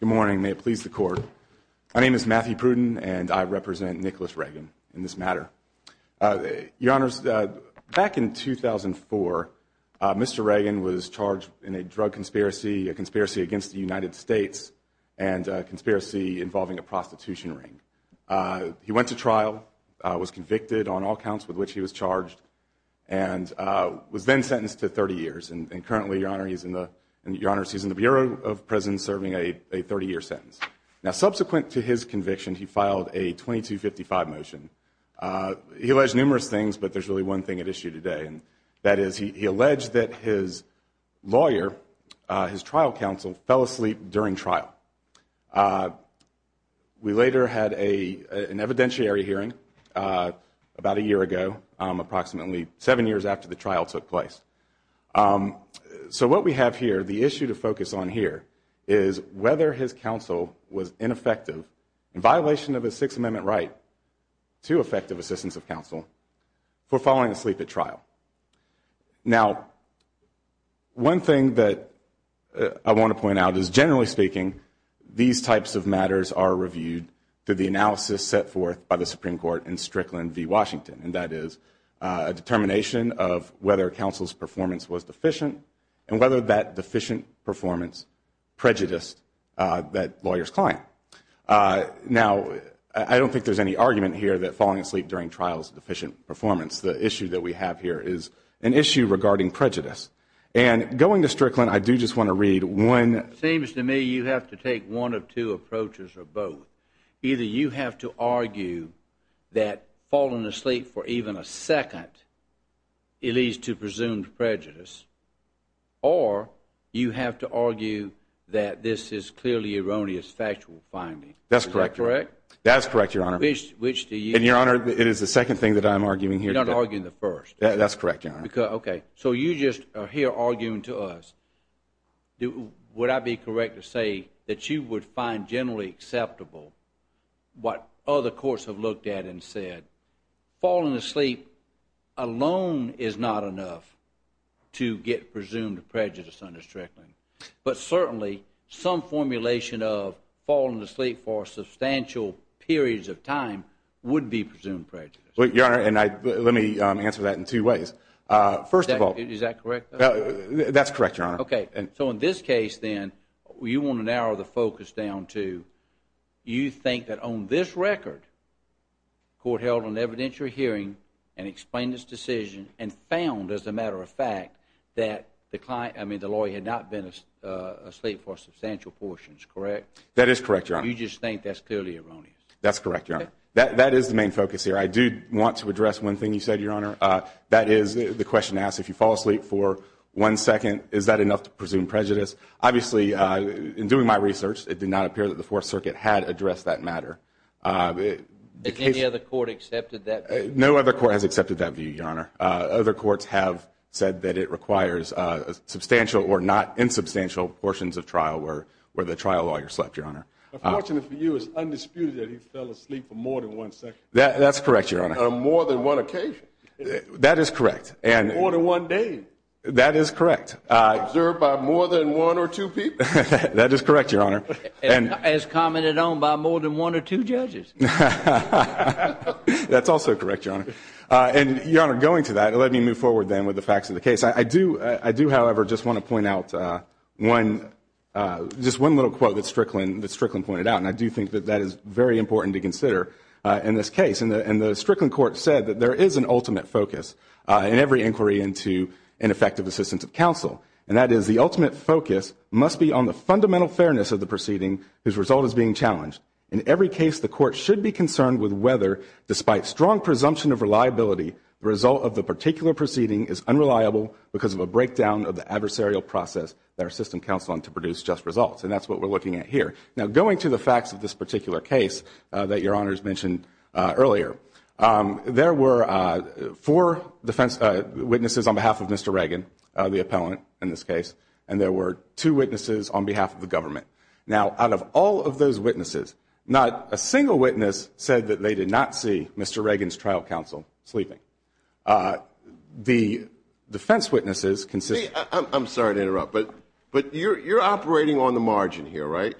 Good morning. May it please the Court. My name is Matthew Pruden, and I represent Nicholas Ragin in this matter. Your Honors, back in 2004, Mr. Ragin was charged in a drug conspiracy, a conspiracy against the United States, and a conspiracy involving a prostitution ring. He went to trial, was convicted on all counts with which he was charged, and was then sentenced to 30 years. And currently, Your Honors, he's in the Bureau of Prisons serving a 30-year sentence. Now, subsequent to his conviction, he filed a 2255 motion. He alleged numerous things, but there's really one thing at issue today, and that is he alleged that his lawyer, his trial counsel, fell asleep during trial. We later had an evidentiary hearing about that a year ago, approximately seven years after the trial took place. So what we have here, the issue to focus on here, is whether his counsel was ineffective in violation of a Sixth Amendment right to effective assistance of counsel for falling asleep at trial. Now, one thing that I want to point out is, generally speaking, these types of matters are reviewed through the analysis set forth by the Supreme Court in Strickland v. Washington, and that is a determination of whether counsel's performance was deficient, and whether that deficient performance prejudiced that lawyer's client. Now, I don't think there's any argument here that falling asleep during trial is a deficient performance. The issue that we have here is an issue regarding prejudice. And going to Strickland, I do just want to read one That seems to me you have to take one of two approaches, or both. Either you have to argue that falling asleep for even a second, it leads to presumed prejudice, or you have to argue that this is clearly erroneous factual finding. That's correct. Is that correct? That is correct, Your Honor. Which do you? And, Your Honor, it is the second thing that I'm arguing here today. You're not arguing the first. That's correct, Your Honor. Because, OK, so you just are here arguing to us. Would I be correct to say that you would find generally acceptable what other courts have looked at and said? Falling asleep alone is not enough to get presumed prejudice under Strickland. But certainly, some formulation of falling asleep for substantial periods of time would be presumed prejudice. Well, Your Honor, let me answer that in two ways. First of all, Is that correct? That's correct, Your Honor. OK. So in this case, then, you want to narrow the focus down to you think that on this record, court held an evidentiary hearing and explained its decision and found, as a matter of fact, that the client, I mean the lawyer, had not been asleep for substantial portions, correct? That is correct, Your Honor. You just think that's clearly erroneous? That's correct, Your Honor. That is the main focus here. I do want to address one thing you said, Your Honor. That is the question asked, if you fall asleep for one second, is that enough to presume prejudice? Obviously, in doing my research, it did not appear that the Fourth Circuit had addressed that matter. Has any other court accepted that view? No other court has accepted that view, Your Honor. Other courts have said that it requires substantial or not insubstantial portions of trial where the trial lawyer slept, Your Honor. Unfortunately for you, it's undisputed that he fell asleep for more than one second. That's correct, Your Honor. On more than one occasion. That is correct. More than one day. That is correct. Observed by more than one or two people. That is correct, Your Honor. As commented on by more than one or two judges. That's also correct, Your Honor. And Your Honor, going to that, let me move forward then with the facts of the case. I do, however, just want to point out just one little quote that Strickland pointed out. And I do think that that is very important to consider in this case. And the Strickland court said that there is an ultimate focus in every inquiry into ineffective assistance of counsel. And that is, the ultimate focus must be on the fundamental fairness of the proceeding whose result is being challenged. In every case, the court should be concerned with whether, despite strong presumption of reliability, the result of the particular proceeding is unreliable because of a breakdown of the adversarial process that our system results. And that's what we're looking at here. Now, going to the facts of this particular case that Your Honor has mentioned earlier, there were four defense witnesses on behalf of Mr. Reagan, the appellant in this case, and there were two witnesses on behalf of the government. Now, out of all of those witnesses, not a single witness said that they did not see Mr. Reagan's trial counsel sleeping. The defense witnesses consist... Let me... I'm sorry to interrupt, but you're operating on the margin here, right?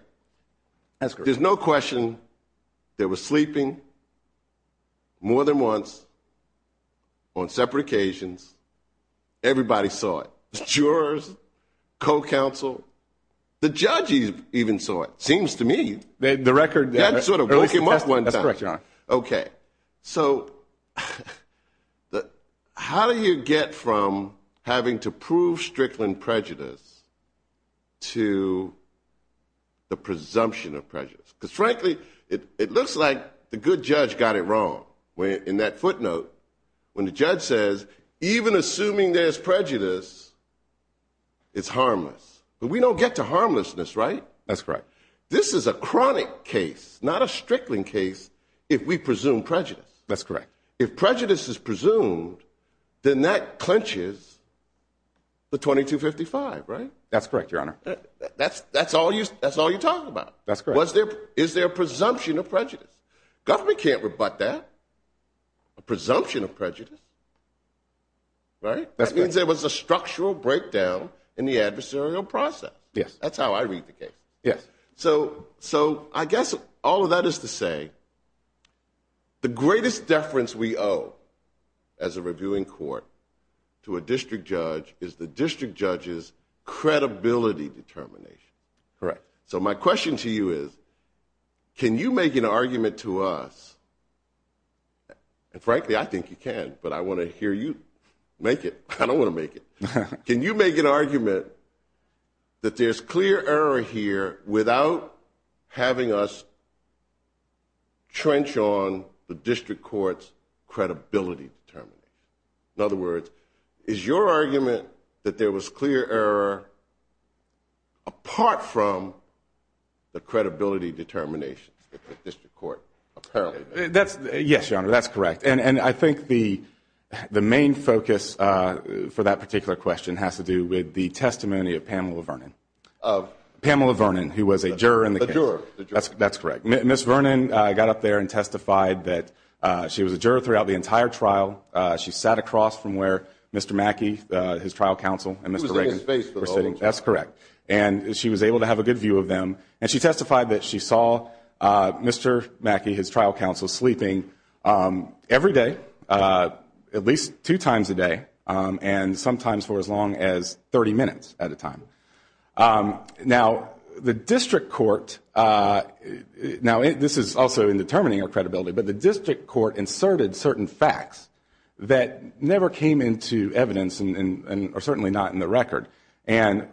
That's correct. There's no question they were sleeping more than once on separate occasions. Everybody saw it. The jurors, co-counsel, the judges even saw it, seems to me. The record... That sort of broke him up one time. That's correct, Your Honor. Okay. So how do you get from having to prove Strickland prejudice to the presumption of prejudice? Because frankly, it looks like the good judge got it wrong in that footnote when the judge says, even assuming there's prejudice, it's harmless. But we don't get to harmlessness, right? That's correct. This is a chronic case, not a Strickland case, if we presume prejudice. That's correct. If prejudice is presumed, then that clenches the 2255, right? That's correct, Your Honor. That's all you talk about. That's correct. Was there... Is there a presumption of prejudice? Government can't rebut that. A presumption of prejudice, right? That means there was a structural breakdown in the adversarial process. Yes. That's how I read the case. Yes. So I guess all of that is to say, the greatest deference we owe as a reviewing court to a district judge is the district judge's credibility determination. Correct. So my question to you is, can you make an argument to us... And frankly, I think you can, but I want to hear you make it. I don't want to make it. Can you make an argument that there's clear error here without having us trench on the district court's credibility determination? In other words, is your argument that there was clear error apart from the credibility determination that the district court apparently made? Yes, Your Honor, that's correct. And I think the main focus for that particular question has to do with the testimony of Pamela Vernon. Of? Pamela Vernon, who was a juror in the case. A juror. That's correct. Ms. Vernon got up there and testified that she was a juror throughout the entire trial. She sat across from where Mr. Mackey, his trial counsel, and Mr. Reagan were sitting. She was in his face for the whole of the trial. That's correct. And she was able to have a good view of them. And she testified that she saw Mr. Mackey, his trial counsel, sleeping every day, at least two times a day, and sometimes for as long as 30 minutes at a time. Now the district court, now this is also in determining her credibility, but the district court inserted certain facts that never came into evidence, or certainly not in the record. And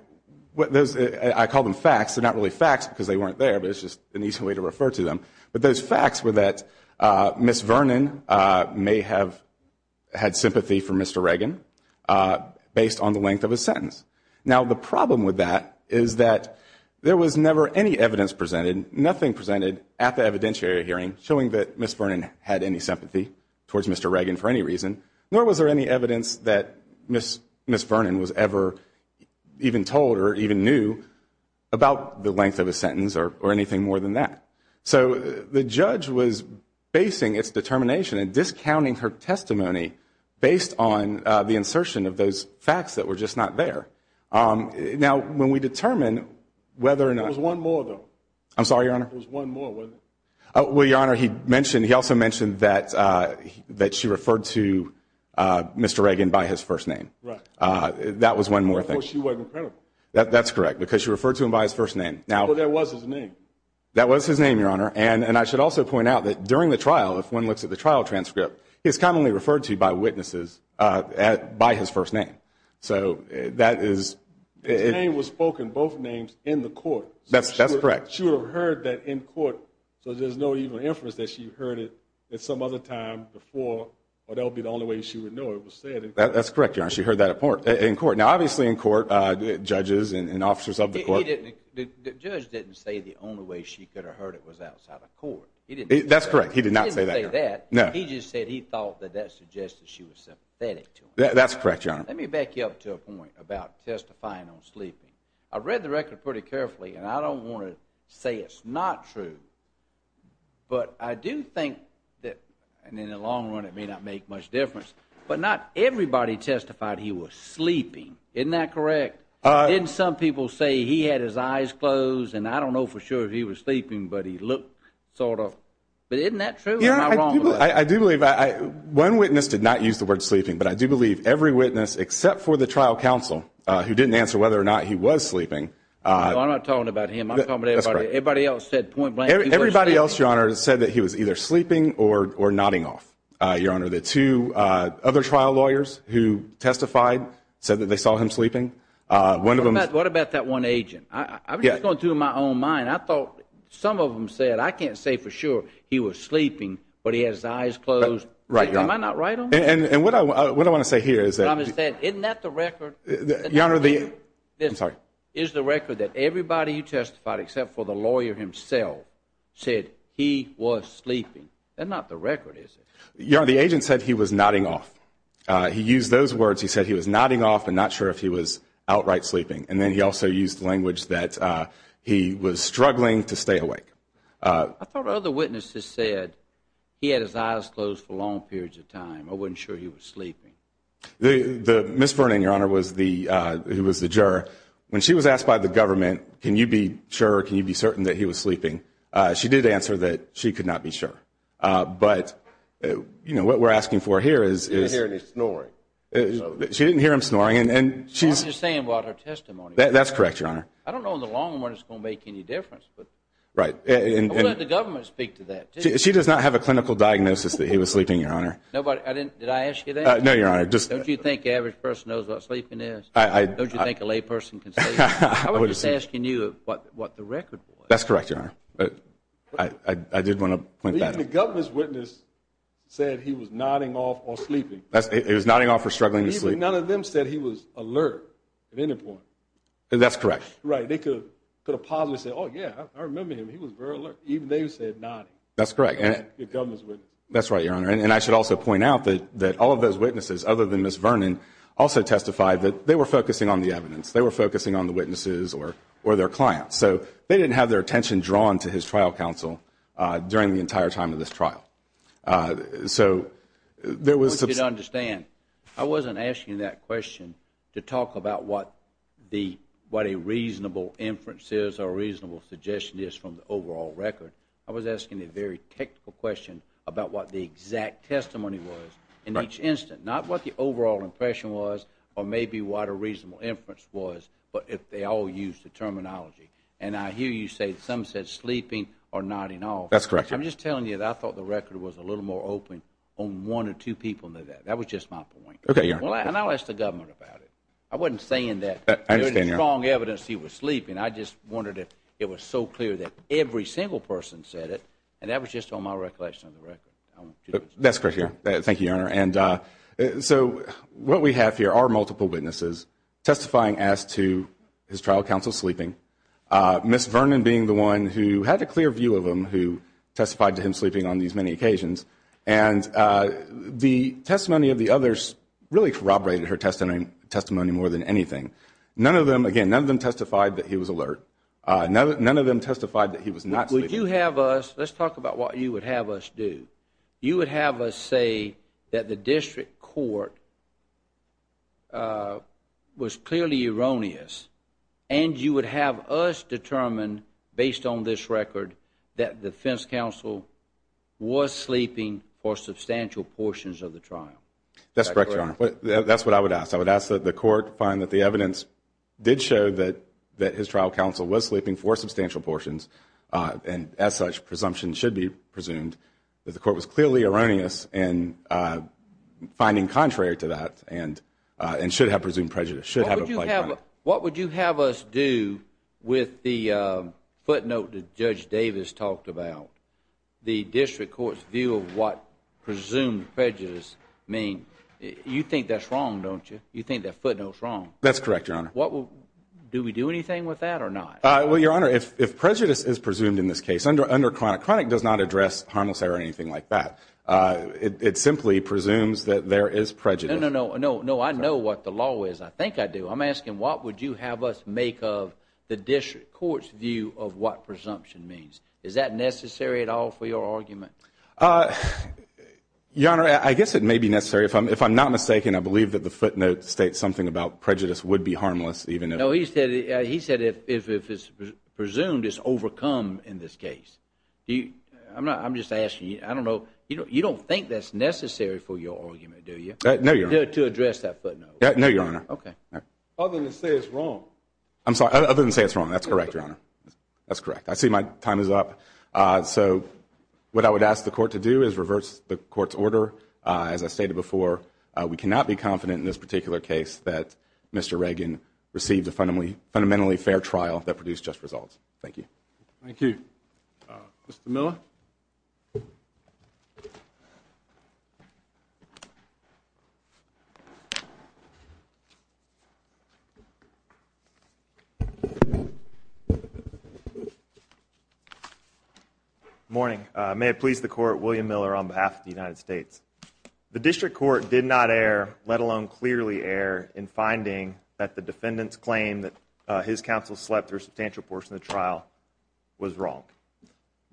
I call them facts. They're not really facts because they weren't there, but it's just an easy way to refer to them. But those facts were that Ms. Vernon may have had sympathy for Mr. Reagan based on the length of a sentence. Now the problem with that is that there was never any evidence presented, nothing presented at the evidentiary hearing showing that Ms. Vernon had any sympathy towards Mr. Reagan for any reason, nor was there any evidence that Ms. Vernon was ever even told or even knew about the length of a sentence or anything more than that. So the judge was basing its determination and discounting her testimony based on the insertion of those facts that were just not there. Now when we determine whether or not – There was one more, though. I'm sorry, Your Honor? There was one more, wasn't there? Well, Your Honor, he also mentioned that she referred to Mr. Reagan by his first name. That was one more thing. Well, of course she wasn't credible. That's correct, because she referred to him by his first name. Well, that was his name. That was his name, Your Honor, and I should also point out that during the trial, if one looks at the trial transcript, he's commonly referred to by witnesses by his first name. So that is – His name was spoken, both names, in the court. That's correct. She would have heard that in court, so there's no even inference that she heard it at some other time before, or that would be the only way she would know it was said in court. That's correct, Your Honor. She heard that in court. Now obviously in court, judges and officers of the court – The judge didn't say the only way she could have heard it was outside of court. That's correct. He did not say that, Your Honor. He didn't say that. No. He just said he thought that that suggested she was sympathetic to him. That's correct, Your Honor. Let me back you up to a point about testifying on sleeping. I read the record pretty carefully, and I don't want to say it's not true, but I do think that, and in the long run it may not make much difference, but not everybody testified he was sleeping. Isn't that correct? Didn't some people say he had his eyes closed, and I don't know for sure if he was sleeping, but he looked sort of – but isn't that true? I do believe – one witness did not use the word sleeping, but I do believe every witness except for the trial counsel, who didn't answer whether or not he was sleeping – No, I'm not talking about him. I'm talking about everybody. That's correct. Everybody else said point blank he was sleeping. Everybody else, Your Honor, said that he was either sleeping or nodding off, Your Honor. The two other trial lawyers who testified said that they saw him sleeping. What about that one agent? I'm just going through it in my own mind. I thought some of them said, I can't say for sure he was sleeping, but he had his eyes closed. Am I not right on that? And what I want to say here is that – Isn't that the record? Your Honor, the – I'm sorry. Is the record that everybody you testified except for the lawyer himself said he was sleeping. That's not the record, is it? Your Honor, the agent said he was nodding off. He used those words. He said he was nodding off and not sure if he was outright sleeping. And then he also used language that he was struggling to stay awake. I thought other witnesses said he had his eyes closed for long periods of time. I wasn't sure he was sleeping. Ms. Vernon, Your Honor, who was the juror, when she was asked by the government, can you be sure, can you be certain that he was sleeping, she did answer that she could not be sure. But, you know, what we're asking for here is – She didn't hear any snoring. She didn't hear him snoring, and she's – That's what I'm just saying about her testimony. That's correct, Your Honor. I don't know in the long run if it's going to make any difference, but – Right. We'll let the government speak to that, too. She does not have a clinical diagnosis that he was sleeping, Your Honor. No, but I didn't – did I ask you that? No, Your Honor, just – Don't you think the average person knows what sleeping is? Don't you think a layperson can say that? I was just asking you what the record was. That's correct, Your Honor. I did want to point that out. Even the government's witness said he was nodding off or sleeping. It was nodding off or struggling to sleep. Even none of them said he was alert at any point. That's correct. Right. They could have possibly said, oh, yeah, I remember him. He was very alert. Even they said nodding. That's correct. The government's witness. That's right, Your Honor. And I should also point out that all of those witnesses, other than Ms. Vernon, also testified that they were focusing on the evidence. They were focusing on the witnesses or their clients. So they didn't have their attention drawn to his trial counsel during the entire time of this trial. So there was – I want you to understand, I wasn't asking that question to talk about what a reasonable inference is or a reasonable suggestion is from the overall record. I was asking a very technical question about what the exact testimony was in each instant, not what the overall impression was or maybe what a reasonable inference was, but if they all used the terminology. And I hear you say some said sleeping or nodding off. That's correct, Your Honor. I'm just telling you that I thought the record was a little more open on one or two people than that. That was just my point. Okay, Your Honor. And I'll ask the government about it. I wasn't saying that there was strong evidence he was sleeping. I just wondered if it was so clear that every single person said it, and that was just on my recollection of the record. That's correct, Your Honor. Thank you, Your Honor. So what we have here are multiple witnesses testifying as to his trial counsel sleeping, Ms. Vernon being the one who had a clear view of him, who testified to him sleeping on these many occasions. And the testimony of the others really corroborated her testimony more than anything. Again, none of them testified that he was alert. None of them testified that he was not sleeping. Would you have us – let's talk about what you would have us do. You would have us say that the district court was clearly erroneous, and you would have us determine, based on this record, that the defense counsel was sleeping for substantial portions of the trial. That's correct, Your Honor. That's what I would ask. I would ask that the court find that the evidence did show that his trial counsel was sleeping for substantial portions, and as such, presumption should be presumed, that the court was clearly erroneous in finding contrary to that and should have presumed prejudice, should have applied to him. What would you have us do with the footnote that Judge Davis talked about? The district court's view of what presumed prejudice means. You think that's wrong, don't you? You think that footnote's wrong. That's correct, Your Honor. Do we do anything with that or not? Well, Your Honor, if prejudice is presumed in this case under chronic, chronic does not address harmless or anything like that. It simply presumes that there is prejudice. No, no, no. I know what the law is. I think I do. I'm asking what would you have us make of the district court's view of what presumption means. Is that necessary at all for your argument? Your Honor, I guess it may be necessary. If I'm not mistaken, I believe that the footnote states something about prejudice would be harmless. No, he said if it's presumed, it's overcome in this case. I'm just asking. I don't know. You don't think that's necessary for your argument, do you? No, Your Honor. To address that footnote. No, Your Honor. Okay. Other than to say it's wrong. I'm sorry. Other than to say it's wrong. That's correct, Your Honor. That's correct. I see my time is up. So what I would ask the court to do is reverse the court's order. As I stated before, we cannot be confident in this particular case that Mr. Reagan received a fundamentally fair trial that produced just results. Thank you. Thank you. Mr. Miller? Good morning. May it please the court, William Miller on behalf of the United States. The district court did not err, let alone clearly err, in finding that the defendant's claim that his counsel slept through a substantial portion of the trial was wrong.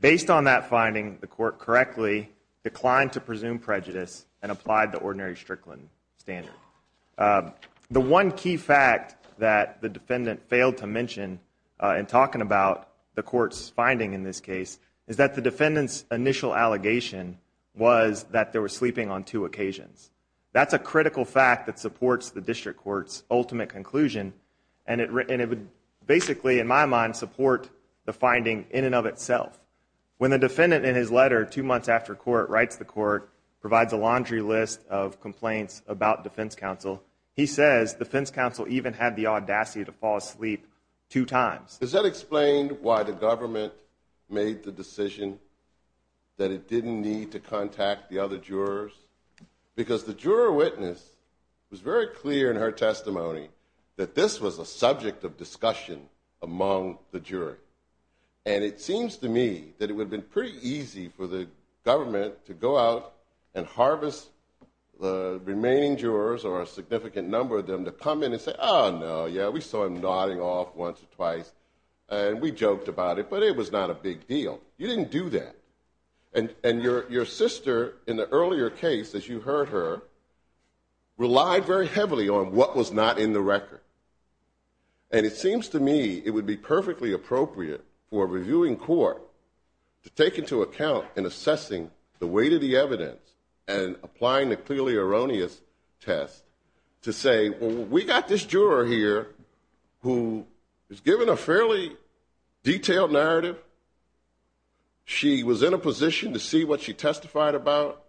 Based on that finding, the court correctly declined to presume prejudice and applied the ordinary Strickland standard. The one key fact that the defendant failed to mention in talking about the court's finding in this case is that the defendant's initial allegation was that they were sleeping on two occasions. That's a critical fact that supports the district court's ultimate conclusion and it would basically, in my mind, support the finding in and of itself. When the defendant in his letter two months after court writes the court, provides a laundry list of complaints about defense counsel, he says defense counsel even had the audacity to fall asleep two times. Does that explain why the government made the decision that it didn't need to contact the other jurors? Because the juror witness was very clear in her testimony that this was a subject of discussion among the jury. And it seems to me that it would have been pretty easy for the government to go out and harvest the remaining jurors or a significant number of them to come in and say, oh, no, yeah, we saw him nodding off once or twice and we joked about it, but it was not a big deal. You didn't do that. And your sister in the earlier case, as you heard her, relied very heavily on what was not in the record. And it seems to me it would be perfectly appropriate for a reviewing court to take into account in assessing the weight of the evidence and applying the clearly erroneous test to say, well, we got this juror here who is given a fairly detailed narrative. She was in a position to see what she testified about.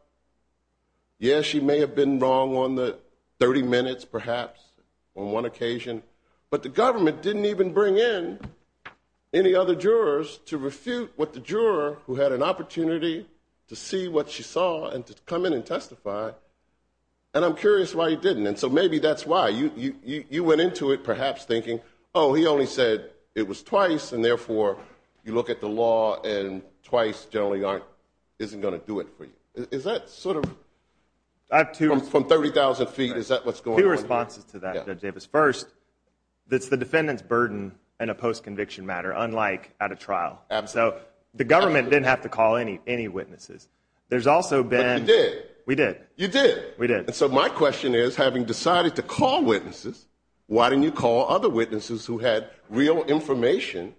Yes, she may have been wrong on the 30 minutes, perhaps, on one occasion. But the government didn't even bring in any other jurors to refute what the juror who had an opportunity to see what she saw and to come in and testify. And I'm curious why he didn't. And so maybe that's why. You went into it perhaps thinking, oh, he only said it was twice, and therefore you look at the law and twice generally isn't going to do it for you. Is that sort of from 30,000 feet, is that what's going on? Two responses to that, Judge Davis. First, it's the defendant's burden in a post-conviction matter, unlike at a trial. So the government didn't have to call any witnesses. But you did. We did. You did. We did. And so my question is, having decided to call witnesses, why didn't you call other witnesses who had real information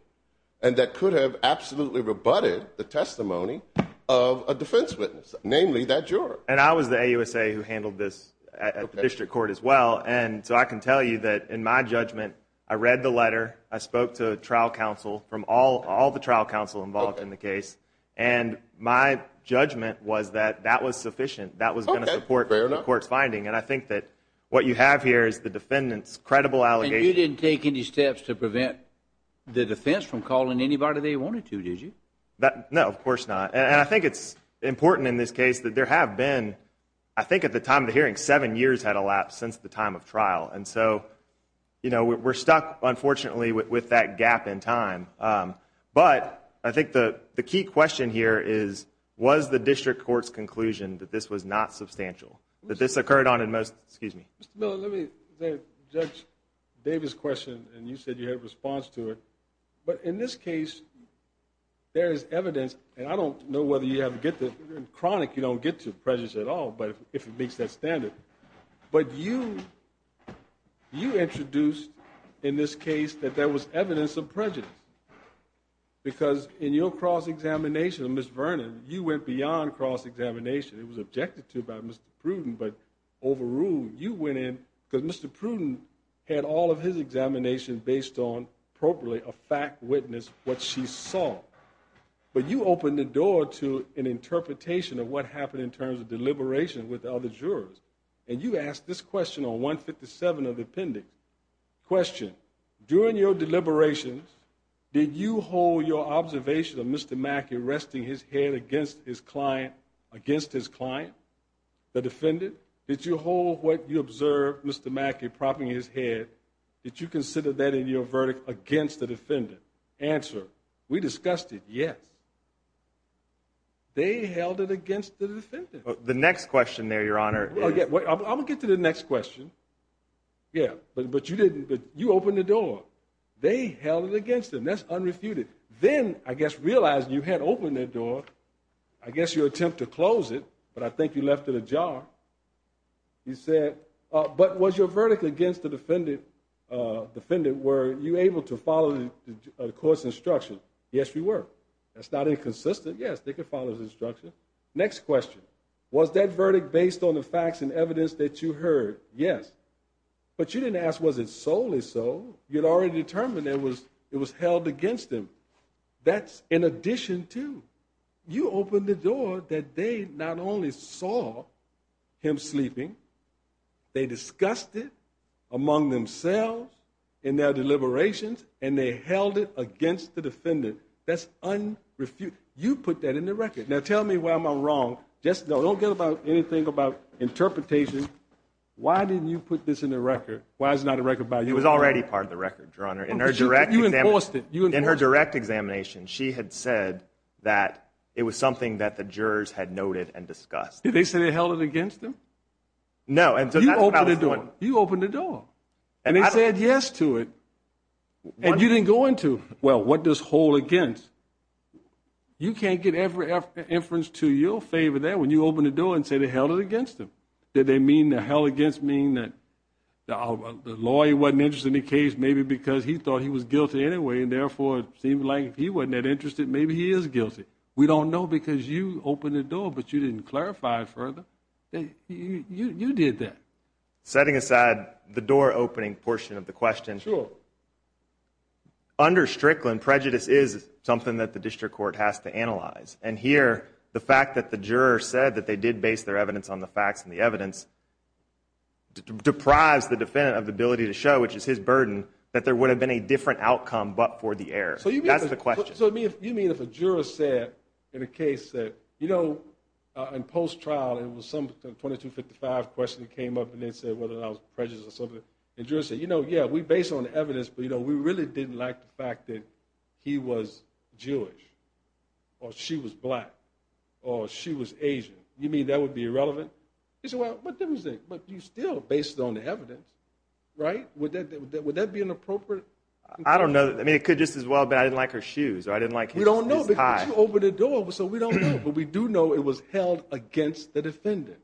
and that could have absolutely rebutted the testimony of a defense witness? Namely, that juror. And I was the AUSA who handled this at the district court as well. And so I can tell you that in my judgment, I read the letter. I spoke to trial counsel from all the trial counsel involved in the case. And my judgment was that that was sufficient. That was going to support the court's finding. And I think that what you have here is the defendant's credible allegation. And you didn't take any steps to prevent the defense from calling anybody they wanted to, did you? No, of course not. And I think it's important in this case that there have been, I think at the time of the hearing, seven years had elapsed since the time of trial. And so we're stuck, unfortunately, with that gap in time. But I think the key question here is, was the district court's conclusion that this was not substantial? That this occurred on a most – excuse me. Judge Davis' question, and you said you had a response to it. But in this case, there is evidence. And I don't know whether you have to get to it. In chronic, you don't get to prejudice at all, if it meets that standard. But you introduced in this case that there was evidence of prejudice. Because in your cross-examination of Ms. Vernon, you went beyond cross-examination. It was objected to by Mr. Pruden, but overruled. You went in because Mr. Pruden had all of his examination based on, appropriately, a fact witness, what she saw. But you opened the door to an interpretation of what happened in terms of deliberation with the other jurors. And you asked this question on 157 of the appendix. Question. During your deliberations, did you hold your observation of Mr. Mackey resting his head against his client, the defendant? Did you hold what you observed Mr. Mackey propping his head? Did you consider that in your verdict against the defendant? Answer. We discussed it, yes. They held it against the defendant. The next question there, Your Honor. I'm going to get to the next question. Yeah, but you opened the door. They held it against him. That's unrefuted. Then, I guess realizing you had opened that door, I guess your attempt to close it, but I think you left it ajar. You said, but was your verdict against the defendant were you able to follow the court's instruction? Yes, we were. That's not inconsistent. Yes, they could follow the instruction. Next question. Was that verdict based on the facts and evidence that you heard? Yes. But you didn't ask was it solely so. You had already determined it was held against him. That's in addition to you opened the door that they not only saw him sleeping, they discussed it among themselves in their deliberations, and they held it against the defendant. That's unrefuted. You put that in the record. Now, tell me where I'm wrong. Don't get anything about interpretation. Why didn't you put this in the record? It was already part of the record, Your Honor. You enforced it. In her direct examination, she had said that it was something that the jurors had noted and discussed. Did they say they held it against him? No. You opened the door. And they said yes to it. And you didn't go into, well, what does hold against? You can't get every inference to your favor there when you open the door and say they held it against him. Did they mean the held against mean that the lawyer wasn't interested in the case maybe because he thought he was guilty anyway, and therefore it seemed like if he wasn't that interested, maybe he is guilty? We don't know because you opened the door, but you didn't clarify it further. You did that. Setting aside the door opening portion of the question, under Strickland, prejudice is something that the district court has to analyze. And here, the fact that the juror said that they did base their evidence on the facts and the evidence deprives the defendant of the ability to show, which is his burden, that there would have been a different outcome but for the error. That's the question. So you mean if a juror said in a case that, you know, in post-trial, it was some 2255 question that came up and they said whether or not it was prejudice or something, and the juror said, you know, yeah, we base it on the evidence, but, you know, we really didn't like the fact that he was Jewish or she was black or she was Asian. You mean that would be irrelevant? But still, based on the evidence, right, would that be an appropriate conclusion? I don't know. I mean, it could just as well be I didn't like her shoes or I didn't like his tie. We don't know because you opened the door, so we don't know. But we do know it was held against the defendant.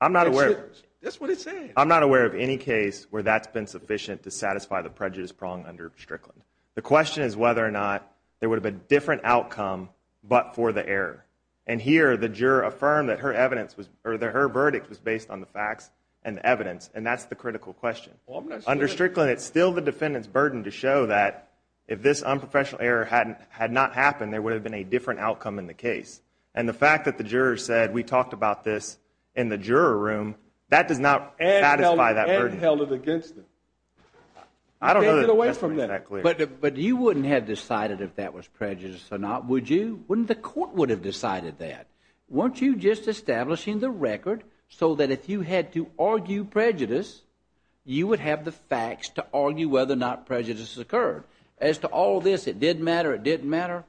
I'm not aware. That's what it said. I'm not aware of any case where that's been sufficient to satisfy the prejudice prong under Strickland. The question is whether or not there would have been a different outcome but for the error. And here the juror affirmed that her verdict was based on the facts and evidence, and that's the critical question. Under Strickland, it's still the defendant's burden to show that if this unprofessional error had not happened, there would have been a different outcome in the case. And the fact that the jurors said we talked about this in the juror room, that does not satisfy that burden. And held it against them. I don't know that that's made that clear. But you wouldn't have decided if that was prejudice or not, would you? Wouldn't the court would have decided that? Weren't you just establishing the record so that if you had to argue prejudice, you would have the facts to argue whether or not prejudice occurred? As to all this, it didn't matter, it didn't matter,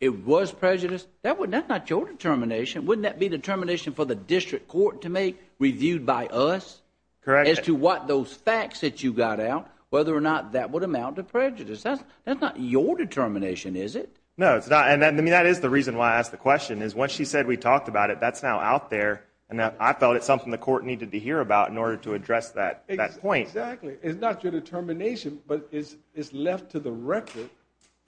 it was prejudice? That's not your determination. Wouldn't that be determination for the district court to make, reviewed by us? Correct. As to what those facts that you got out, whether or not that would amount to prejudice. That's not your determination, is it? No, it's not. And that is the reason why I asked the question, is once she said we talked about it, that's now out there and I felt it's something the court needed to hear about in order to address that point. Exactly. It's not your determination, but it's left to the record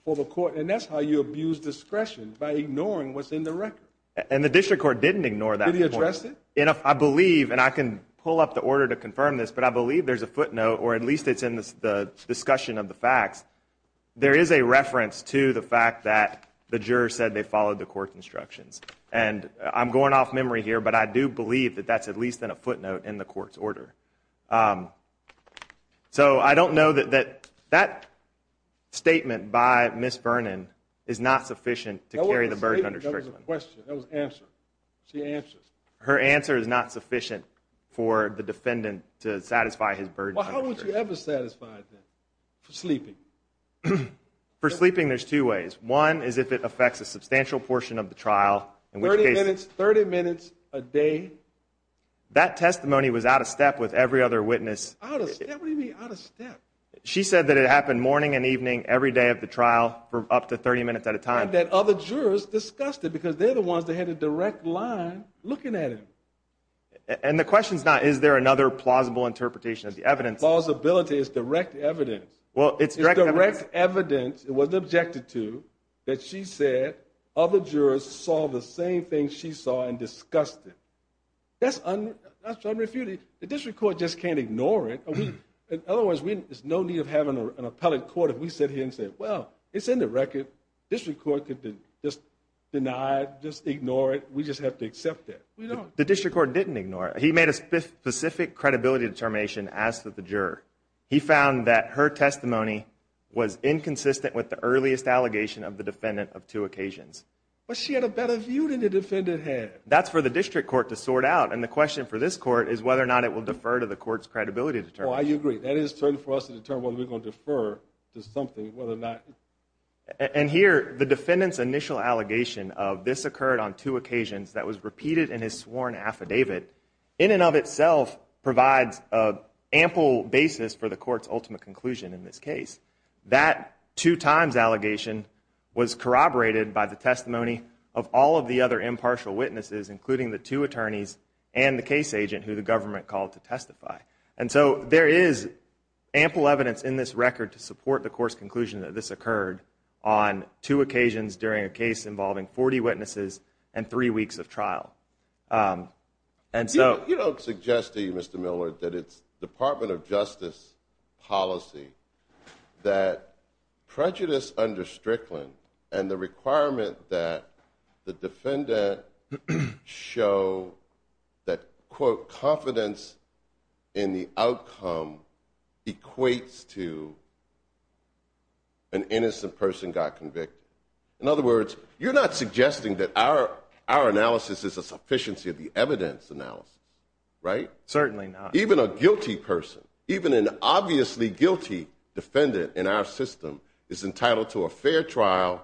for the court. And that's how you abuse discretion, by ignoring what's in the record. And the district court didn't ignore that point. Did he address it? I believe, and I can pull up the order to confirm this, but I believe there's a footnote, or at least it's in the discussion of the facts. There is a reference to the fact that the juror said they followed the court's instructions. And I'm going off memory here, but I do believe that that's at least in a footnote in the court's order. So I don't know that that statement by Ms. Vernon is not sufficient to carry the burden under strictly. That wasn't a statement, that was a question. That was an answer. She answers. Her answer is not sufficient for the defendant to satisfy his burden. Well, how would you ever satisfy it then, for sleeping? For sleeping, there's two ways. One is if it affects a substantial portion of the trial. 30 minutes a day? That testimony was out of step with every other witness. Out of step? What do you mean out of step? She said that it happened morning and evening every day of the trial for up to 30 minutes at a time. And that other jurors discussed it because they're the ones that had a direct line looking at it. And the question's not is there another plausible interpretation of the evidence. Plausibility is direct evidence. Well, it's direct evidence. It wasn't objected to that she said other jurors saw the same thing she saw and discussed it. That's unrefuted. The district court just can't ignore it. In other words, there's no need of having an appellate court if we sit here and say, well, it's in the record. District court could just deny it, just ignore it. We just have to accept it. The district court didn't ignore it. He made a specific credibility determination as to the juror. He found that her testimony was inconsistent with the earliest allegation of the defendant of two occasions. But she had a better view than the defendant had. That's for the district court to sort out. And the question for this court is whether or not it will defer to the court's credibility determination. Oh, I agree. That is for us to determine whether we're going to defer to something, whether or not. And here, the defendant's initial allegation of this occurred on two occasions that was repeated in his sworn affidavit, which in and of itself provides an ample basis for the court's ultimate conclusion in this case. That two times allegation was corroborated by the testimony of all of the other impartial witnesses, including the two attorneys and the case agent who the government called to testify. And so there is ample evidence in this record to support the court's conclusion that this occurred on two occasions during a case involving 40 witnesses and three weeks of trial. You don't suggest to me, Mr. Miller, that it's Department of Justice policy that prejudice under Strickland and the requirement that the defendant show that, quote, confidence in the outcome equates to an innocent person got convicted. In other words, you're not suggesting that our analysis is a sufficiency of the evidence analysis, right? Certainly not. Even a guilty person, even an obviously guilty defendant in our system, is entitled to a fair trial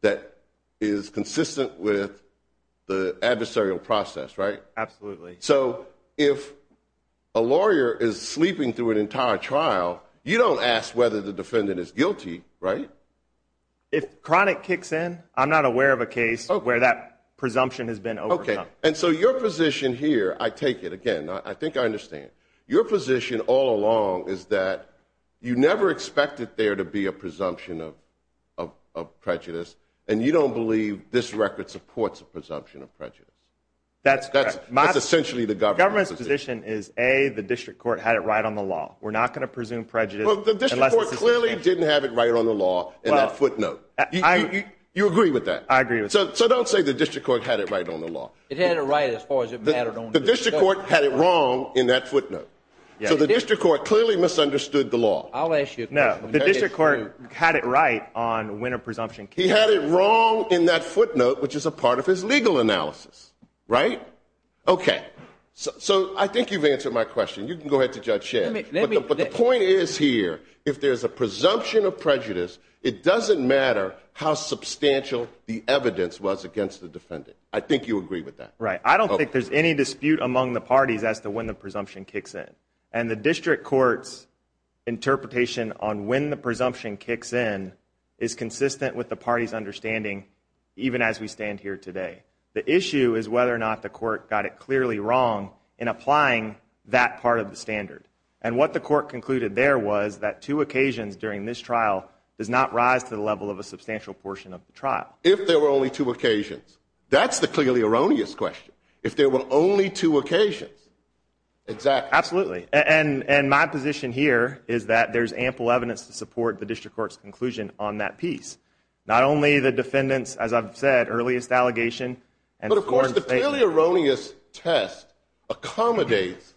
that is consistent with the adversarial process, right? Absolutely. So if a lawyer is sleeping through an entire trial, you don't ask whether the defendant is guilty, right? If chronic kicks in, I'm not aware of a case where that presumption has been overcome. And so your position here, I take it again, I think I understand. Your position all along is that you never expected there to be a presumption of prejudice, and you don't believe this record supports a presumption of prejudice. That's correct. That's essentially the government's position. The government's position is, A, the district court had it right on the law. We're not going to presume prejudice unless it's substantial. Well, the district court clearly didn't have it right on the law in that footnote. You agree with that? I agree with that. So don't say the district court had it right on the law. It had it right as far as it mattered on the district court. The district court had it wrong in that footnote. So the district court clearly misunderstood the law. I'll ask you a question. No, the district court had it right on when a presumption came. He had it wrong in that footnote, which is a part of his legal analysis, right? Okay. So I think you've answered my question. You can go ahead to Judge Schen. But the point is here, if there's a presumption of prejudice, it doesn't matter how substantial the evidence was against the defendant. I think you agree with that. Right. I don't think there's any dispute among the parties as to when the presumption kicks in. And the district court's interpretation on when the presumption kicks in is consistent with the party's understanding, even as we stand here today. The issue is whether or not the court got it clearly wrong in applying that part of the standard. And what the court concluded there was that two occasions during this trial does not rise to the level of a substantial portion of the trial. If there were only two occasions. That's the clearly erroneous question. If there were only two occasions. Exactly. Absolutely. And my position here is that there's ample evidence to support the district court's conclusion on that piece. Not only the defendant's, as I've said, earliest allegation. But of course, the clearly erroneous test accommodates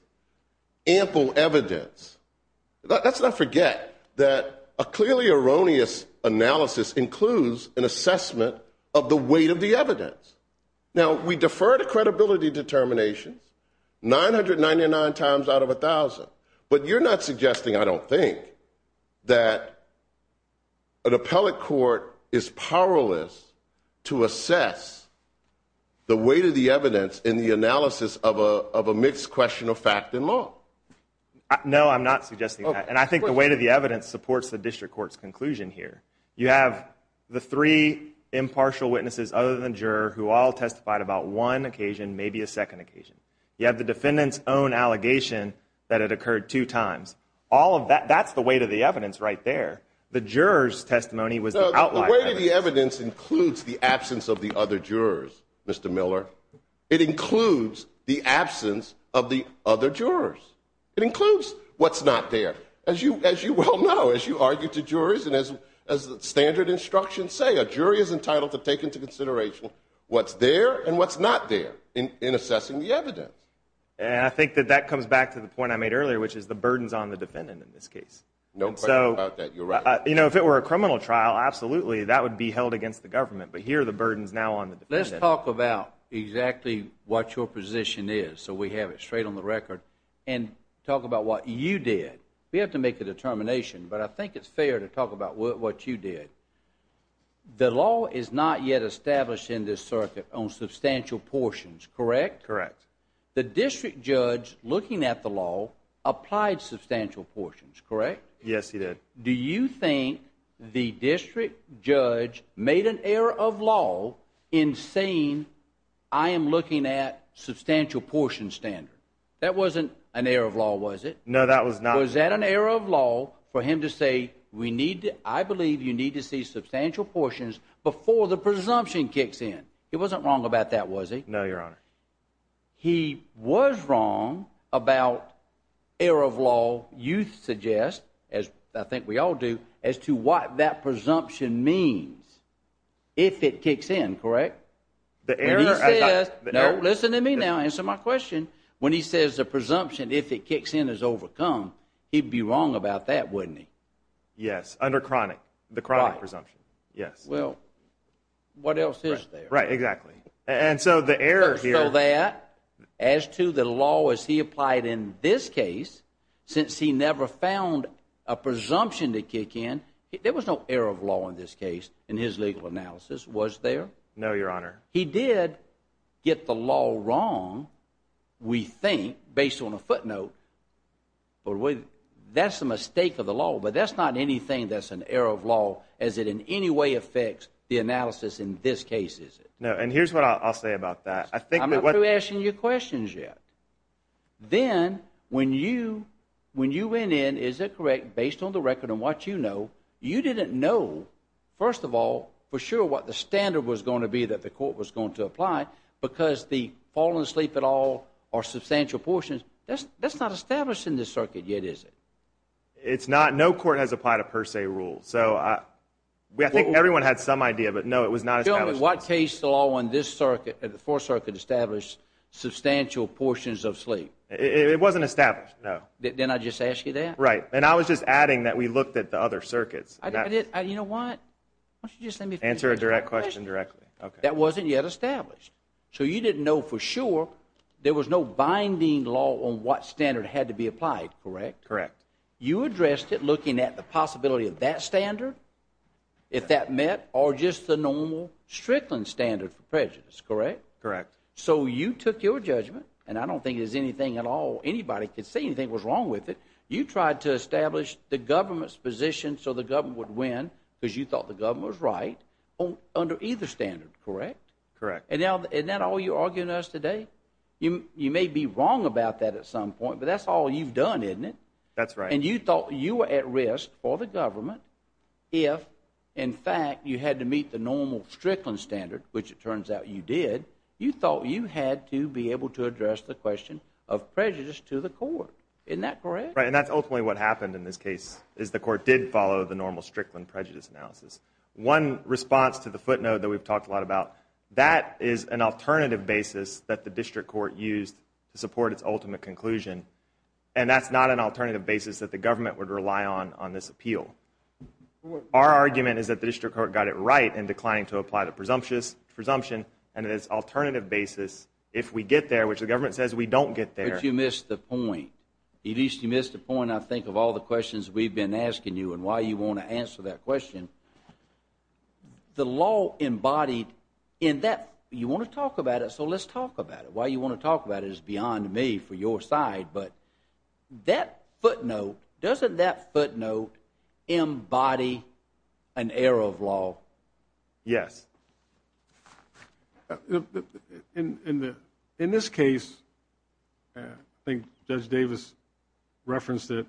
ample evidence. Let's not forget that a clearly erroneous analysis includes an assessment of the weight of the evidence. Now, we defer to credibility determinations 999 times out of 1,000. But you're not suggesting, I don't think, that an appellate court is powerless to assess the weight of the evidence in the analysis of a mixed question of fact and law. No, I'm not suggesting that. And I think the weight of the evidence supports the district court's conclusion here. You have the three impartial witnesses other than juror who all testified about one occasion, maybe a second occasion. You have the defendant's own allegation that it occurred two times. That's the weight of the evidence right there. The juror's testimony was the outlier evidence. The weight of the evidence includes the absence of the other jurors, Mr. Miller. It includes the absence of the other jurors. It includes what's not there. As you well know, as you argue to jurors and as standard instructions say, a jury is entitled to take into consideration what's there and what's not there in assessing the evidence. And I think that that comes back to the point I made earlier, which is the burdens on the defendant in this case. No question about that. You're right. You know, if it were a criminal trial, absolutely, that would be held against the government. But here are the burdens now on the defendant. Let's talk about exactly what your position is so we have it straight on the record and talk about what you did. We have to make a determination, but I think it's fair to talk about what you did. The law is not yet established in this circuit on substantial portions, correct? Correct. The district judge looking at the law applied substantial portions, correct? Yes, he did. Do you think the district judge made an error of law in saying, I am looking at substantial portion standard? That wasn't an error of law, was it? No, that was not. Was that an error of law for him to say, I believe you need to see substantial portions before the presumption kicks in? He wasn't wrong about that, was he? No, Your Honor. He was wrong about error of law, you suggest, as I think we all do, as to what that presumption means, if it kicks in, correct? No, listen to me now, answer my question. When he says the presumption, if it kicks in, is overcome, he'd be wrong about that, wouldn't he? Yes, under chronic, the chronic presumption. Well, what else is there? Right, exactly. And so the error here— So that, as to the law as he applied in this case, since he never found a presumption to kick in, there was no error of law in this case, in his legal analysis, was there? No, Your Honor. He did get the law wrong, we think, based on a footnote, but that's a mistake of the law. But that's not anything that's an error of law, as it in any way affects the analysis in this case, is it? No, and here's what I'll say about that. I'm not through asking you questions yet. Then, when you went in, is it correct, based on the record and what you know, you didn't know, first of all, for sure what the standard was going to be that the court was going to apply, because the fall asleep et al. are substantial portions. That's not established in this circuit yet, is it? It's not. No court has applied a per se rule. I think everyone had some idea, but no, it was not established. What case law in this circuit, the Fourth Circuit, established substantial portions of sleep? It wasn't established, no. Didn't I just ask you that? Right, and I was just adding that we looked at the other circuits. You know what? Answer a direct question directly. That wasn't yet established. So you didn't know for sure, there was no binding law on what standard had to be applied, correct? Correct. You addressed it looking at the possibility of that standard, if that met, or just the normal Strickland standard for prejudice, correct? Correct. So you took your judgment, and I don't think there's anything at all anybody could say anything was wrong with it. You tried to establish the government's position so the government would win, because you thought the government was right, under either standard, correct? Correct. Isn't that all you're arguing to us today? You may be wrong about that at some point, but that's all you've done, isn't it? That's right. And you thought you were at risk for the government if, in fact, you had to meet the normal Strickland standard, which it turns out you did. You thought you had to be able to address the question of prejudice to the court. Isn't that correct? Right, and that's ultimately what happened in this case, is the court did follow the normal Strickland prejudice analysis. One response to the footnote that we've talked a lot about, that is an alternative basis that the district court used to support its ultimate conclusion. And that's not an alternative basis that the government would rely on on this appeal. Our argument is that the district court got it right in declining to apply the presumption, and that it's an alternative basis if we get there, which the government says we don't get there. But you missed the point. At least you missed the point, I think, of all the questions we've been asking you and why you want to answer that question. The law embodied in that, you want to talk about it, so let's talk about it. Why you want to talk about it is beyond me for your side, but that footnote, doesn't that footnote embody an error of law? Yes. In this case, I think Judge Davis referenced it,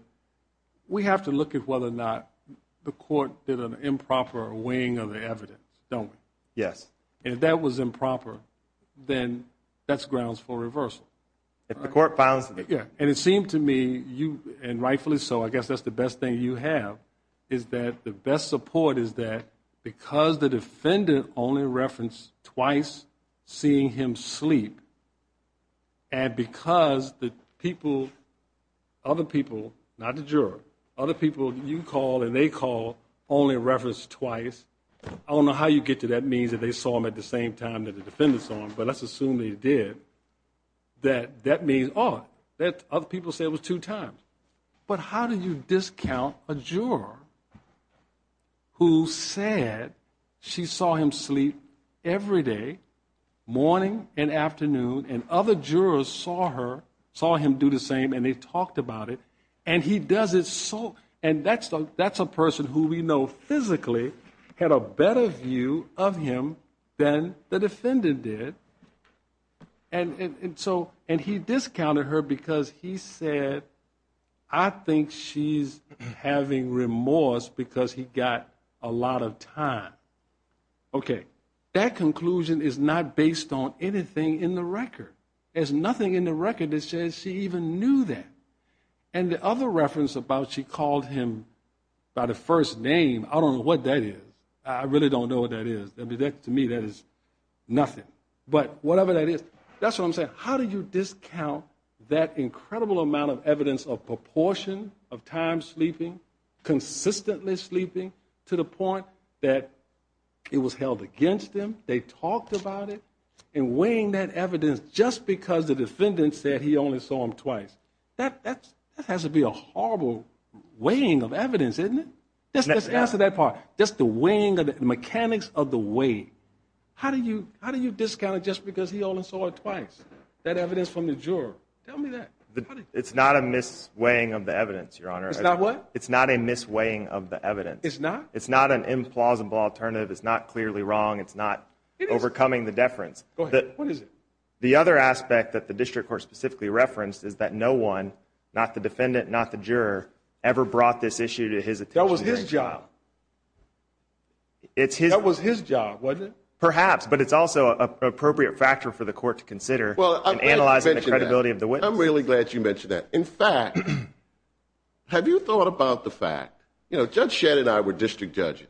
we have to look at whether or not the court did an improper weighing of the evidence, don't we? Yes. And if that was improper, then that's grounds for reversal. If the court finds it. Yeah. And it seemed to me, and rightfully so, I guess that's the best thing you have, is that the best support is that because the defendant only referenced twice seeing him sleep, and because the people, other people, not the juror, other people you called and they called only referenced twice, I don't know how you get to that means that they saw him at the same time that the defendant saw him, but let's assume they did, that that means, oh, other people say it was two times. But how do you discount a juror who said she saw him sleep every day, morning and afternoon, and other jurors saw her, saw him do the same and they talked about it, and he does it so, and that's a person who we know physically had a better view of him than the defendant did, and he discounted her because he said, I think she's having remorse because he got a lot of time. Okay. That conclusion is not based on anything in the record. There's nothing in the record that says she even knew that. And the other reference about she called him by the first name, I don't know what that is. I really don't know what that is. To me that is nothing. But whatever that is, that's what I'm saying. How do you discount that incredible amount of evidence of proportion of time sleeping, consistently sleeping, to the point that it was held against them, they talked about it, and weighing that evidence just because the defendant said he only saw him twice. That has to be a horrible weighing of evidence, isn't it? Let's answer that part. That's the weighing of the mechanics of the weight. How do you discount it just because he only saw her twice, that evidence from the juror? Tell me that. It's not a mis-weighing of the evidence, Your Honor. It's not what? It's not a mis-weighing of the evidence. It's not? It's not an implausible alternative. It's not clearly wrong. It's not overcoming the deference. Go ahead. What is it? The other aspect that the district court specifically referenced is that no one, not the defendant, not the juror, ever brought this issue to his attention. That was his job. That was his job, wasn't it? Perhaps. But it's also an appropriate factor for the court to consider in analyzing the credibility of the witness. I'm really glad you mentioned that. In fact, have you thought about the fact, you know, Judge Shedd and I were district judges.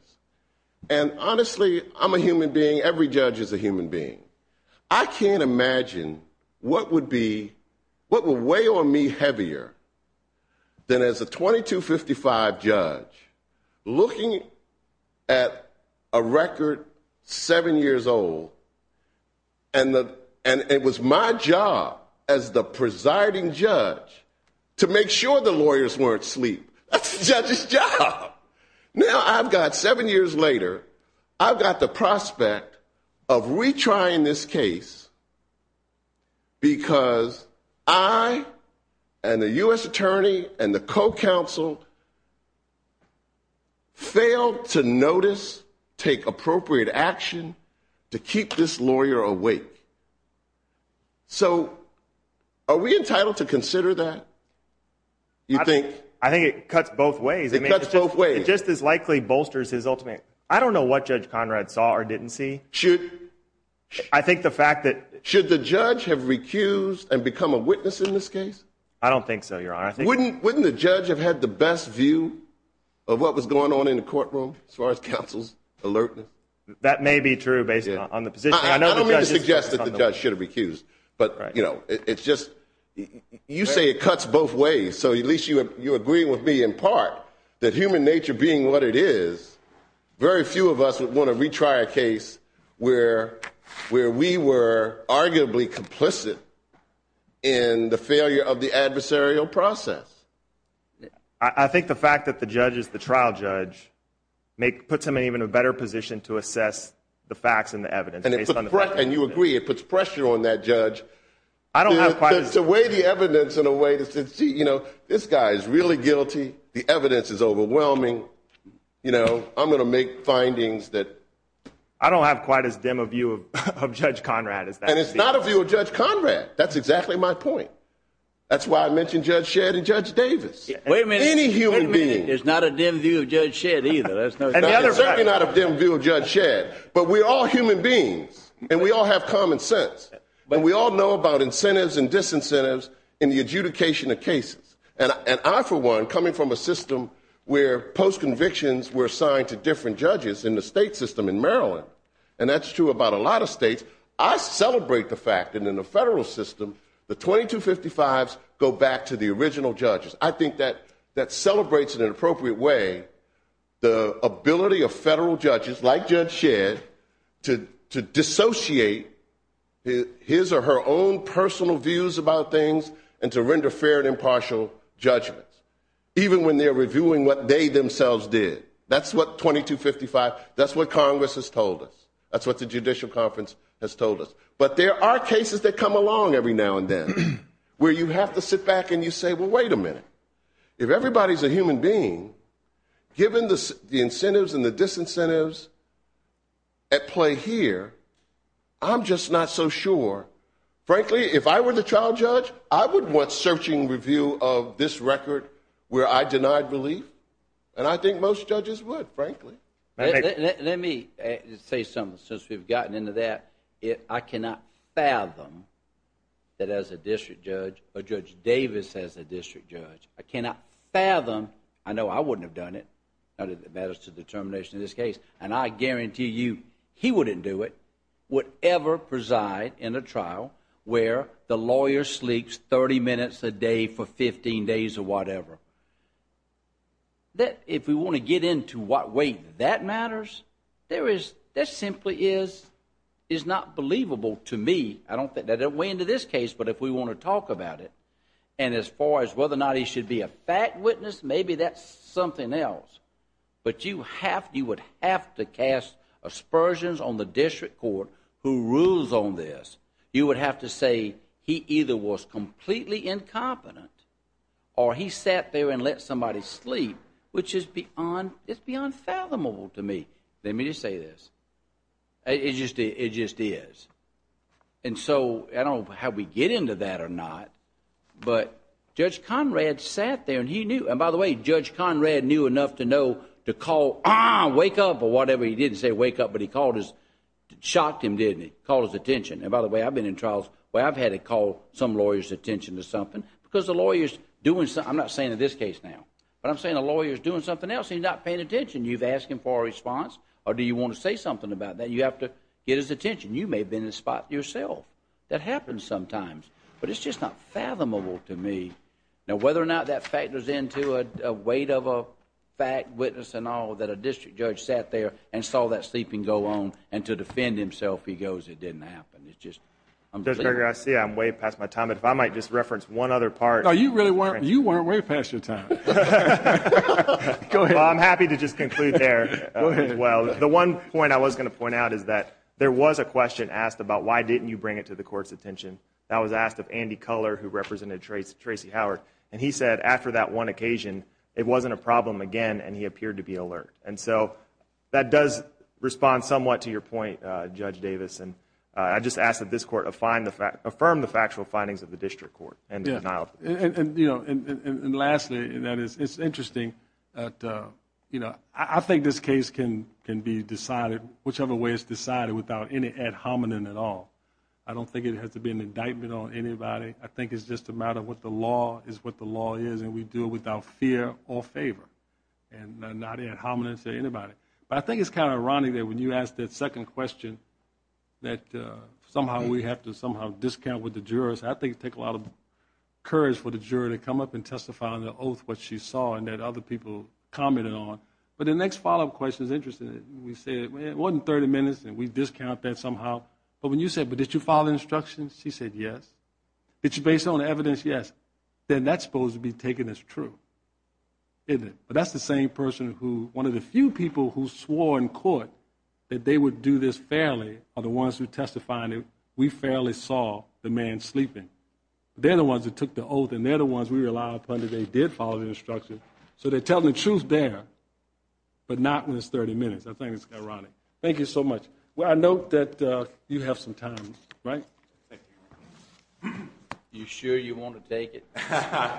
And honestly, I'm a human being. Every judge is a human being. I can't imagine what would weigh on me heavier than as a 2255 judge looking at a record seven years old and it was my job as the presiding judge to make sure the lawyers weren't asleep. That's the judge's job. Now I've got seven years later, I've got the prospect of retrying this case because I and the U.S. attorney and the co-counsel failed to notice, take appropriate action to keep this lawyer awake. So are we entitled to consider that? You think? I think it cuts both ways. It cuts both ways. It just as likely bolsters his ultimate... I don't know what Judge Conrad saw or didn't see. Should... I think the fact that... Should the judge have recused and become a witness in this case? I don't think so, Your Honor. Wouldn't the judge have had the best view of what was going on in the courtroom as far as counsel's alertness? That may be true based on the position. I don't mean to suggest that the judge should have recused, but, you know, it's just... You say it cuts both ways, so at least you agree with me in part that human nature being what it is, very few of us would want to retry a case where we were arguably complicit in the failure of the adversarial process. I think the fact that the judge is the trial judge puts him in an even better position to assess the facts and the evidence. And you agree it puts pressure on that judge to weigh the evidence in a way that says, you know, this guy is really guilty, the evidence is overwhelming, you know, I'm going to make findings that... I don't have quite as dim a view of Judge Conrad as that... And it's not a view of Judge Conrad. That's exactly my point. That's why I mentioned Judge Shedd and Judge Davis. Wait a minute. Any human being. There's not a dim view of Judge Shedd either. There's no... Certainly not a dim view of Judge Shedd, but we're all human beings, and we all have common sense, and we all know about incentives and disincentives in the adjudication of cases. And I, for one, coming from a system where post-convictions were assigned to different judges in the state system in Maryland, and that's true about a lot of states, I celebrate the fact that in the federal system, the 2255s go back to the original judges. I think that celebrates in an appropriate way the ability of federal judges, like Judge Shedd, to dissociate his or her own personal views about things and to render fair and impartial judgments, even when they're reviewing what they themselves did. That's what 2255, that's what Congress has told us. That's what the Judicial Conference has told us. But there are cases that come along every now and then where you have to sit back and you say, well, wait a minute. If everybody's a human being, given the incentives and the disincentives at play here, I'm just not so sure. Frankly, if I were the trial judge, I would want searching review of this record where I denied relief, and I think most judges would, frankly. Let me say something, since we've gotten into that. I cannot fathom that as a district judge, or Judge Davis as a district judge, I cannot fathom. I know I wouldn't have done it. It matters to the determination of this case. And I guarantee you he wouldn't do it, would ever preside in a trial where the lawyer sleeps 30 minutes a day for 15 days or whatever. If we want to get into what way that matters, that simply is not believable to me. I don't fit that way into this case, but if we want to talk about it, and as far as whether or not he should be a fact witness, maybe that's something else. But you would have to cast aspersions on the district court who rules on this. You would have to say he either was completely incompetent, or he sat there and let somebody sleep, which is beyond fathomable to me. Let me just say this. It just is. And so I don't know how we get into that or not, but Judge Conrad sat there, and he knew. And by the way, Judge Conrad knew enough to know to call, ah, wake up, or whatever. He didn't say wake up, but he called his, shocked him, didn't he, called his attention. And by the way, I've been in trials where I've had to call some lawyer's attention to something because the lawyer's doing something. I'm not saying in this case now, but I'm saying the lawyer's doing something else. He's not paying attention. You've asked him for a response, or do you want to say something about that? You have to get his attention. You may have been in the spot yourself. That happens sometimes, but it's just not fathomable to me. Now, whether or not that factors into a weight of a fact, witness, and all, that a district judge sat there and saw that sleeping go on, and to defend himself, he goes, it didn't happen. It's just unbelievable. Judge Berger, I see I'm way past my time, but if I might just reference one other part. No, you really weren't. You weren't way past your time. Go ahead. Well, I'm happy to just conclude there as well. The one point I was going to point out is that there was a question asked about why didn't you bring it to the court's attention. That was asked of Andy Culler, who represented Tracy Howard, and he said after that one occasion, it wasn't a problem again, and he appeared to be alert. And so that does respond somewhat to your point, Judge Davis, and I just ask that this court affirm the factual findings of the district court. And lastly, it's interesting. I think this case can be decided whichever way it's decided without any ad hominem at all. I don't think it has to be an indictment on anybody. I think it's just a matter of what the law is what the law is, and we do it without fear or favor, and not ad hominem to anybody. But I think it's kind of ironic that when you asked that second question, that somehow we have to somehow discount with the jurors. I think it takes a lot of courage for the juror to come up and testify on the oath what she saw and that other people commented on. But the next follow-up question is interesting. We say it wasn't 30 minutes, and we discount that somehow. But when you said, but did you follow instructions? She said yes. Did you base it on evidence? Yes. Then that's supposed to be taken as true, isn't it? But that's the same person who one of the few people who swore in court that they would do this fairly are the ones who testified that we fairly saw the man sleeping. They're the ones that took the oath, and they're the ones we rely upon that they did follow the instructions. So they're telling the truth there, but not when it's 30 minutes. I think it's ironic. Thank you so much. Well, I note that you have some time, right? Thank you. You sure you want to take it? I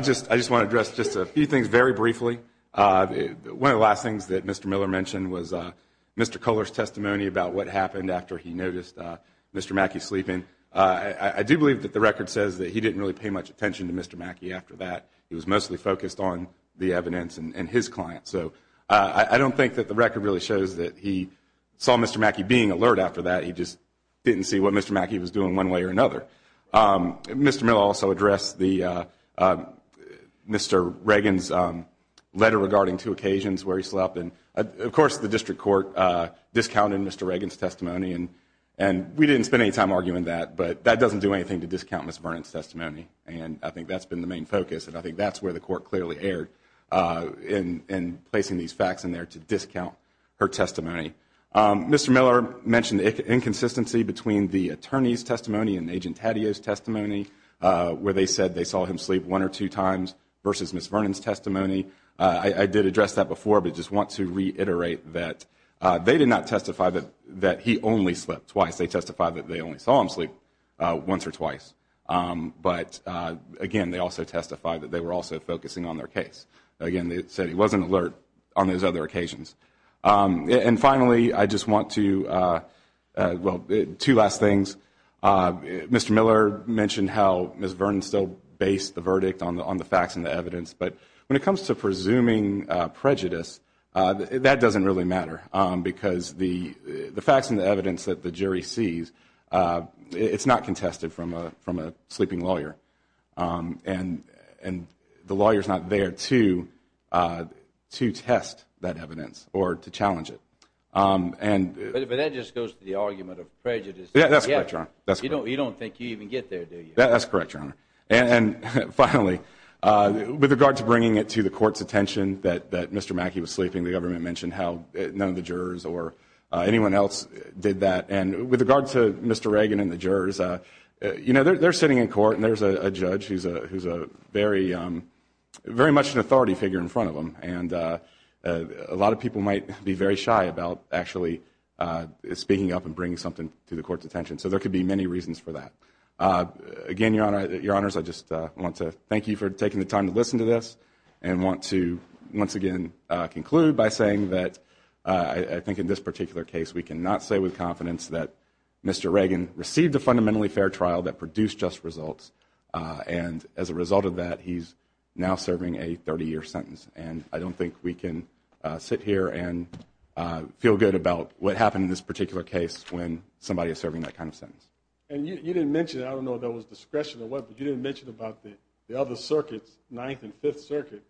just want to address just a few things very briefly. One of the last things that Mr. Miller mentioned was Mr. Culler's testimony about what happened after he noticed Mr. Mackey sleeping. I do believe that the record says that he didn't really pay much attention to Mr. Mackey after that. He was mostly focused on the evidence and his client. So I don't think that the record really shows that he saw Mr. Mackey being alert after that. He just didn't see what Mr. Mackey was doing one way or another. Mr. Miller also addressed Mr. Reagan's letter regarding two occasions where he slept. And, of course, the district court discounted Mr. Reagan's testimony. And we didn't spend any time arguing that, but that doesn't do anything to discount Mr. Vernon's testimony. And I think that's been the main focus. And I think that's where the court clearly erred in placing these facts in there to discount her testimony. Mr. Miller mentioned inconsistency between the attorney's testimony and Agent Taddeo's testimony, where they said they saw him sleep one or two times versus Ms. Vernon's testimony. I did address that before, but I just want to reiterate that they did not testify that he only slept twice. They testified that they only saw him sleep once or twice. But, again, they also testified that they were also focusing on their case. Again, they said he wasn't alert on those other occasions. And, finally, I just want to – well, two last things. Mr. Miller mentioned how Ms. Vernon still based the verdict on the facts and the evidence. But when it comes to presuming prejudice, that doesn't really matter, because the facts and the evidence that the jury sees, it's not contested from a sleeping lawyer. And the lawyer's not there to test that evidence or to challenge it. But that just goes to the argument of prejudice. Yeah, that's correct, Your Honor. You don't think you even get there, do you? That's correct, Your Honor. And, finally, with regard to bringing it to the court's attention that Mr. Mackey was sleeping, the government mentioned how none of the jurors or anyone else did that. And with regard to Mr. Reagan and the jurors, you know, they're sitting in court, and there's a judge who's very much an authority figure in front of them. And a lot of people might be very shy about actually speaking up and bringing something to the court's attention. So there could be many reasons for that. Again, Your Honors, I just want to thank you for taking the time to listen to this and want to once again conclude by saying that I think in this particular case we cannot say with confidence that Mr. Reagan received a fundamentally fair trial that produced just results, and as a result of that he's now serving a 30-year sentence. And I don't think we can sit here and feel good about what happened in this particular case when somebody is serving that kind of sentence. And you didn't mention it. I don't know if that was discretion or what, but you didn't mention about the other circuits, Ninth and Fifth Circuit,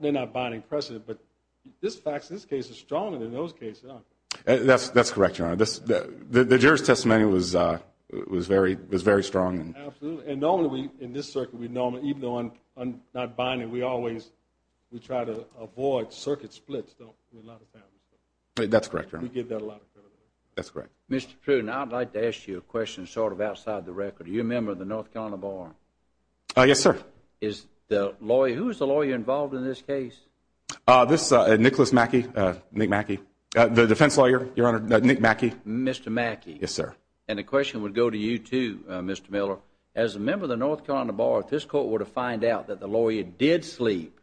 they're not binding precedent, but this case is stronger than those cases are. That's correct, Your Honor. The juror's testimony was very strong. Absolutely. And normally in this circuit, even though not binding, we always try to avoid circuit splits with a lot of families. That's correct, Your Honor. We give that a lot of credit. That's correct. Mr. Pruden, I'd like to ask you a question sort of outside the record. You're a member of the North Carolina Bar. Yes, sir. Who is the lawyer involved in this case? Nicholas Mackey, Nick Mackey, the defense lawyer, Your Honor, Nick Mackey. Mr. Mackey. Yes, sir. And the question would go to you, too, Mr. Miller. As a member of the North Carolina Bar, if this court were to find out that the lawyer did sleep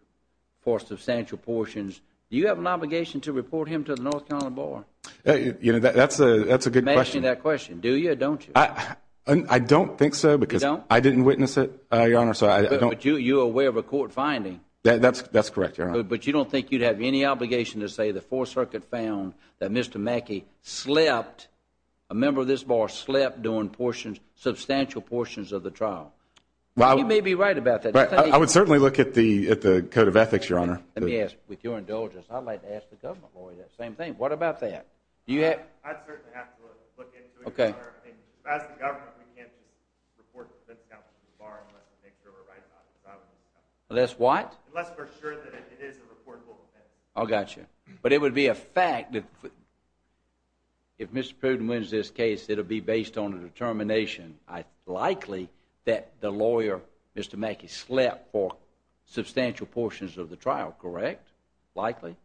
for substantial portions, do you have an obligation to report him to the North Carolina Bar? That's a good question. You're asking that question, do you or don't you? I don't think so because I didn't witness it, Your Honor. But you're aware of a court finding. That's correct, Your Honor. But you don't think you'd have any obligation to say the Fourth Circuit found that Mr. Mackey slept, a member of this bar slept during substantial portions of the trial? You may be right about that. I would certainly look at the Code of Ethics, Your Honor. Let me ask, with your indulgence, I'd like to ask the government lawyer the same thing. What about that? I'd certainly have to look into it, Your Honor. As the government, we can't just report him to the North Carolina Bar unless we make sure we're right about it. Unless what? Unless we're sure that it is a reportable offense. I got you. But it would be a fact that if Mr. Pruden wins this case, it will be based on a determination, likely, that the lawyer, Mr. Mackey, slept for substantial portions of the trial, correct? Likely.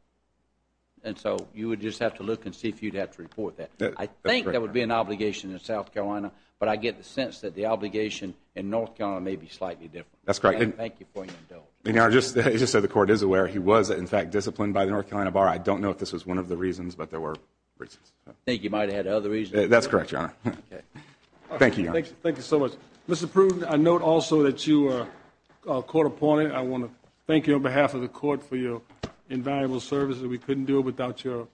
And so you would just have to look and see if you'd have to report that. I think there would be an obligation in South Carolina, but I get the sense that the obligation in North Carolina may be slightly different. That's correct. Thank you for your indulgence. Your Honor, just so the Court is aware, he was, in fact, disciplined by the North Carolina Bar. I don't know if this was one of the reasons, but there were reasons. I think he might have had other reasons. That's correct, Your Honor. Thank you, Your Honor. Thank you so much. Mr. Pruden, I note also that you are a court opponent. I want to thank you on behalf of the Court for your invaluable service. We couldn't do it without your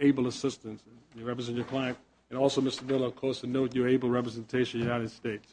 able assistance. You represent your client. And also, Mr. Miller, of course, to note your able representation of the United States.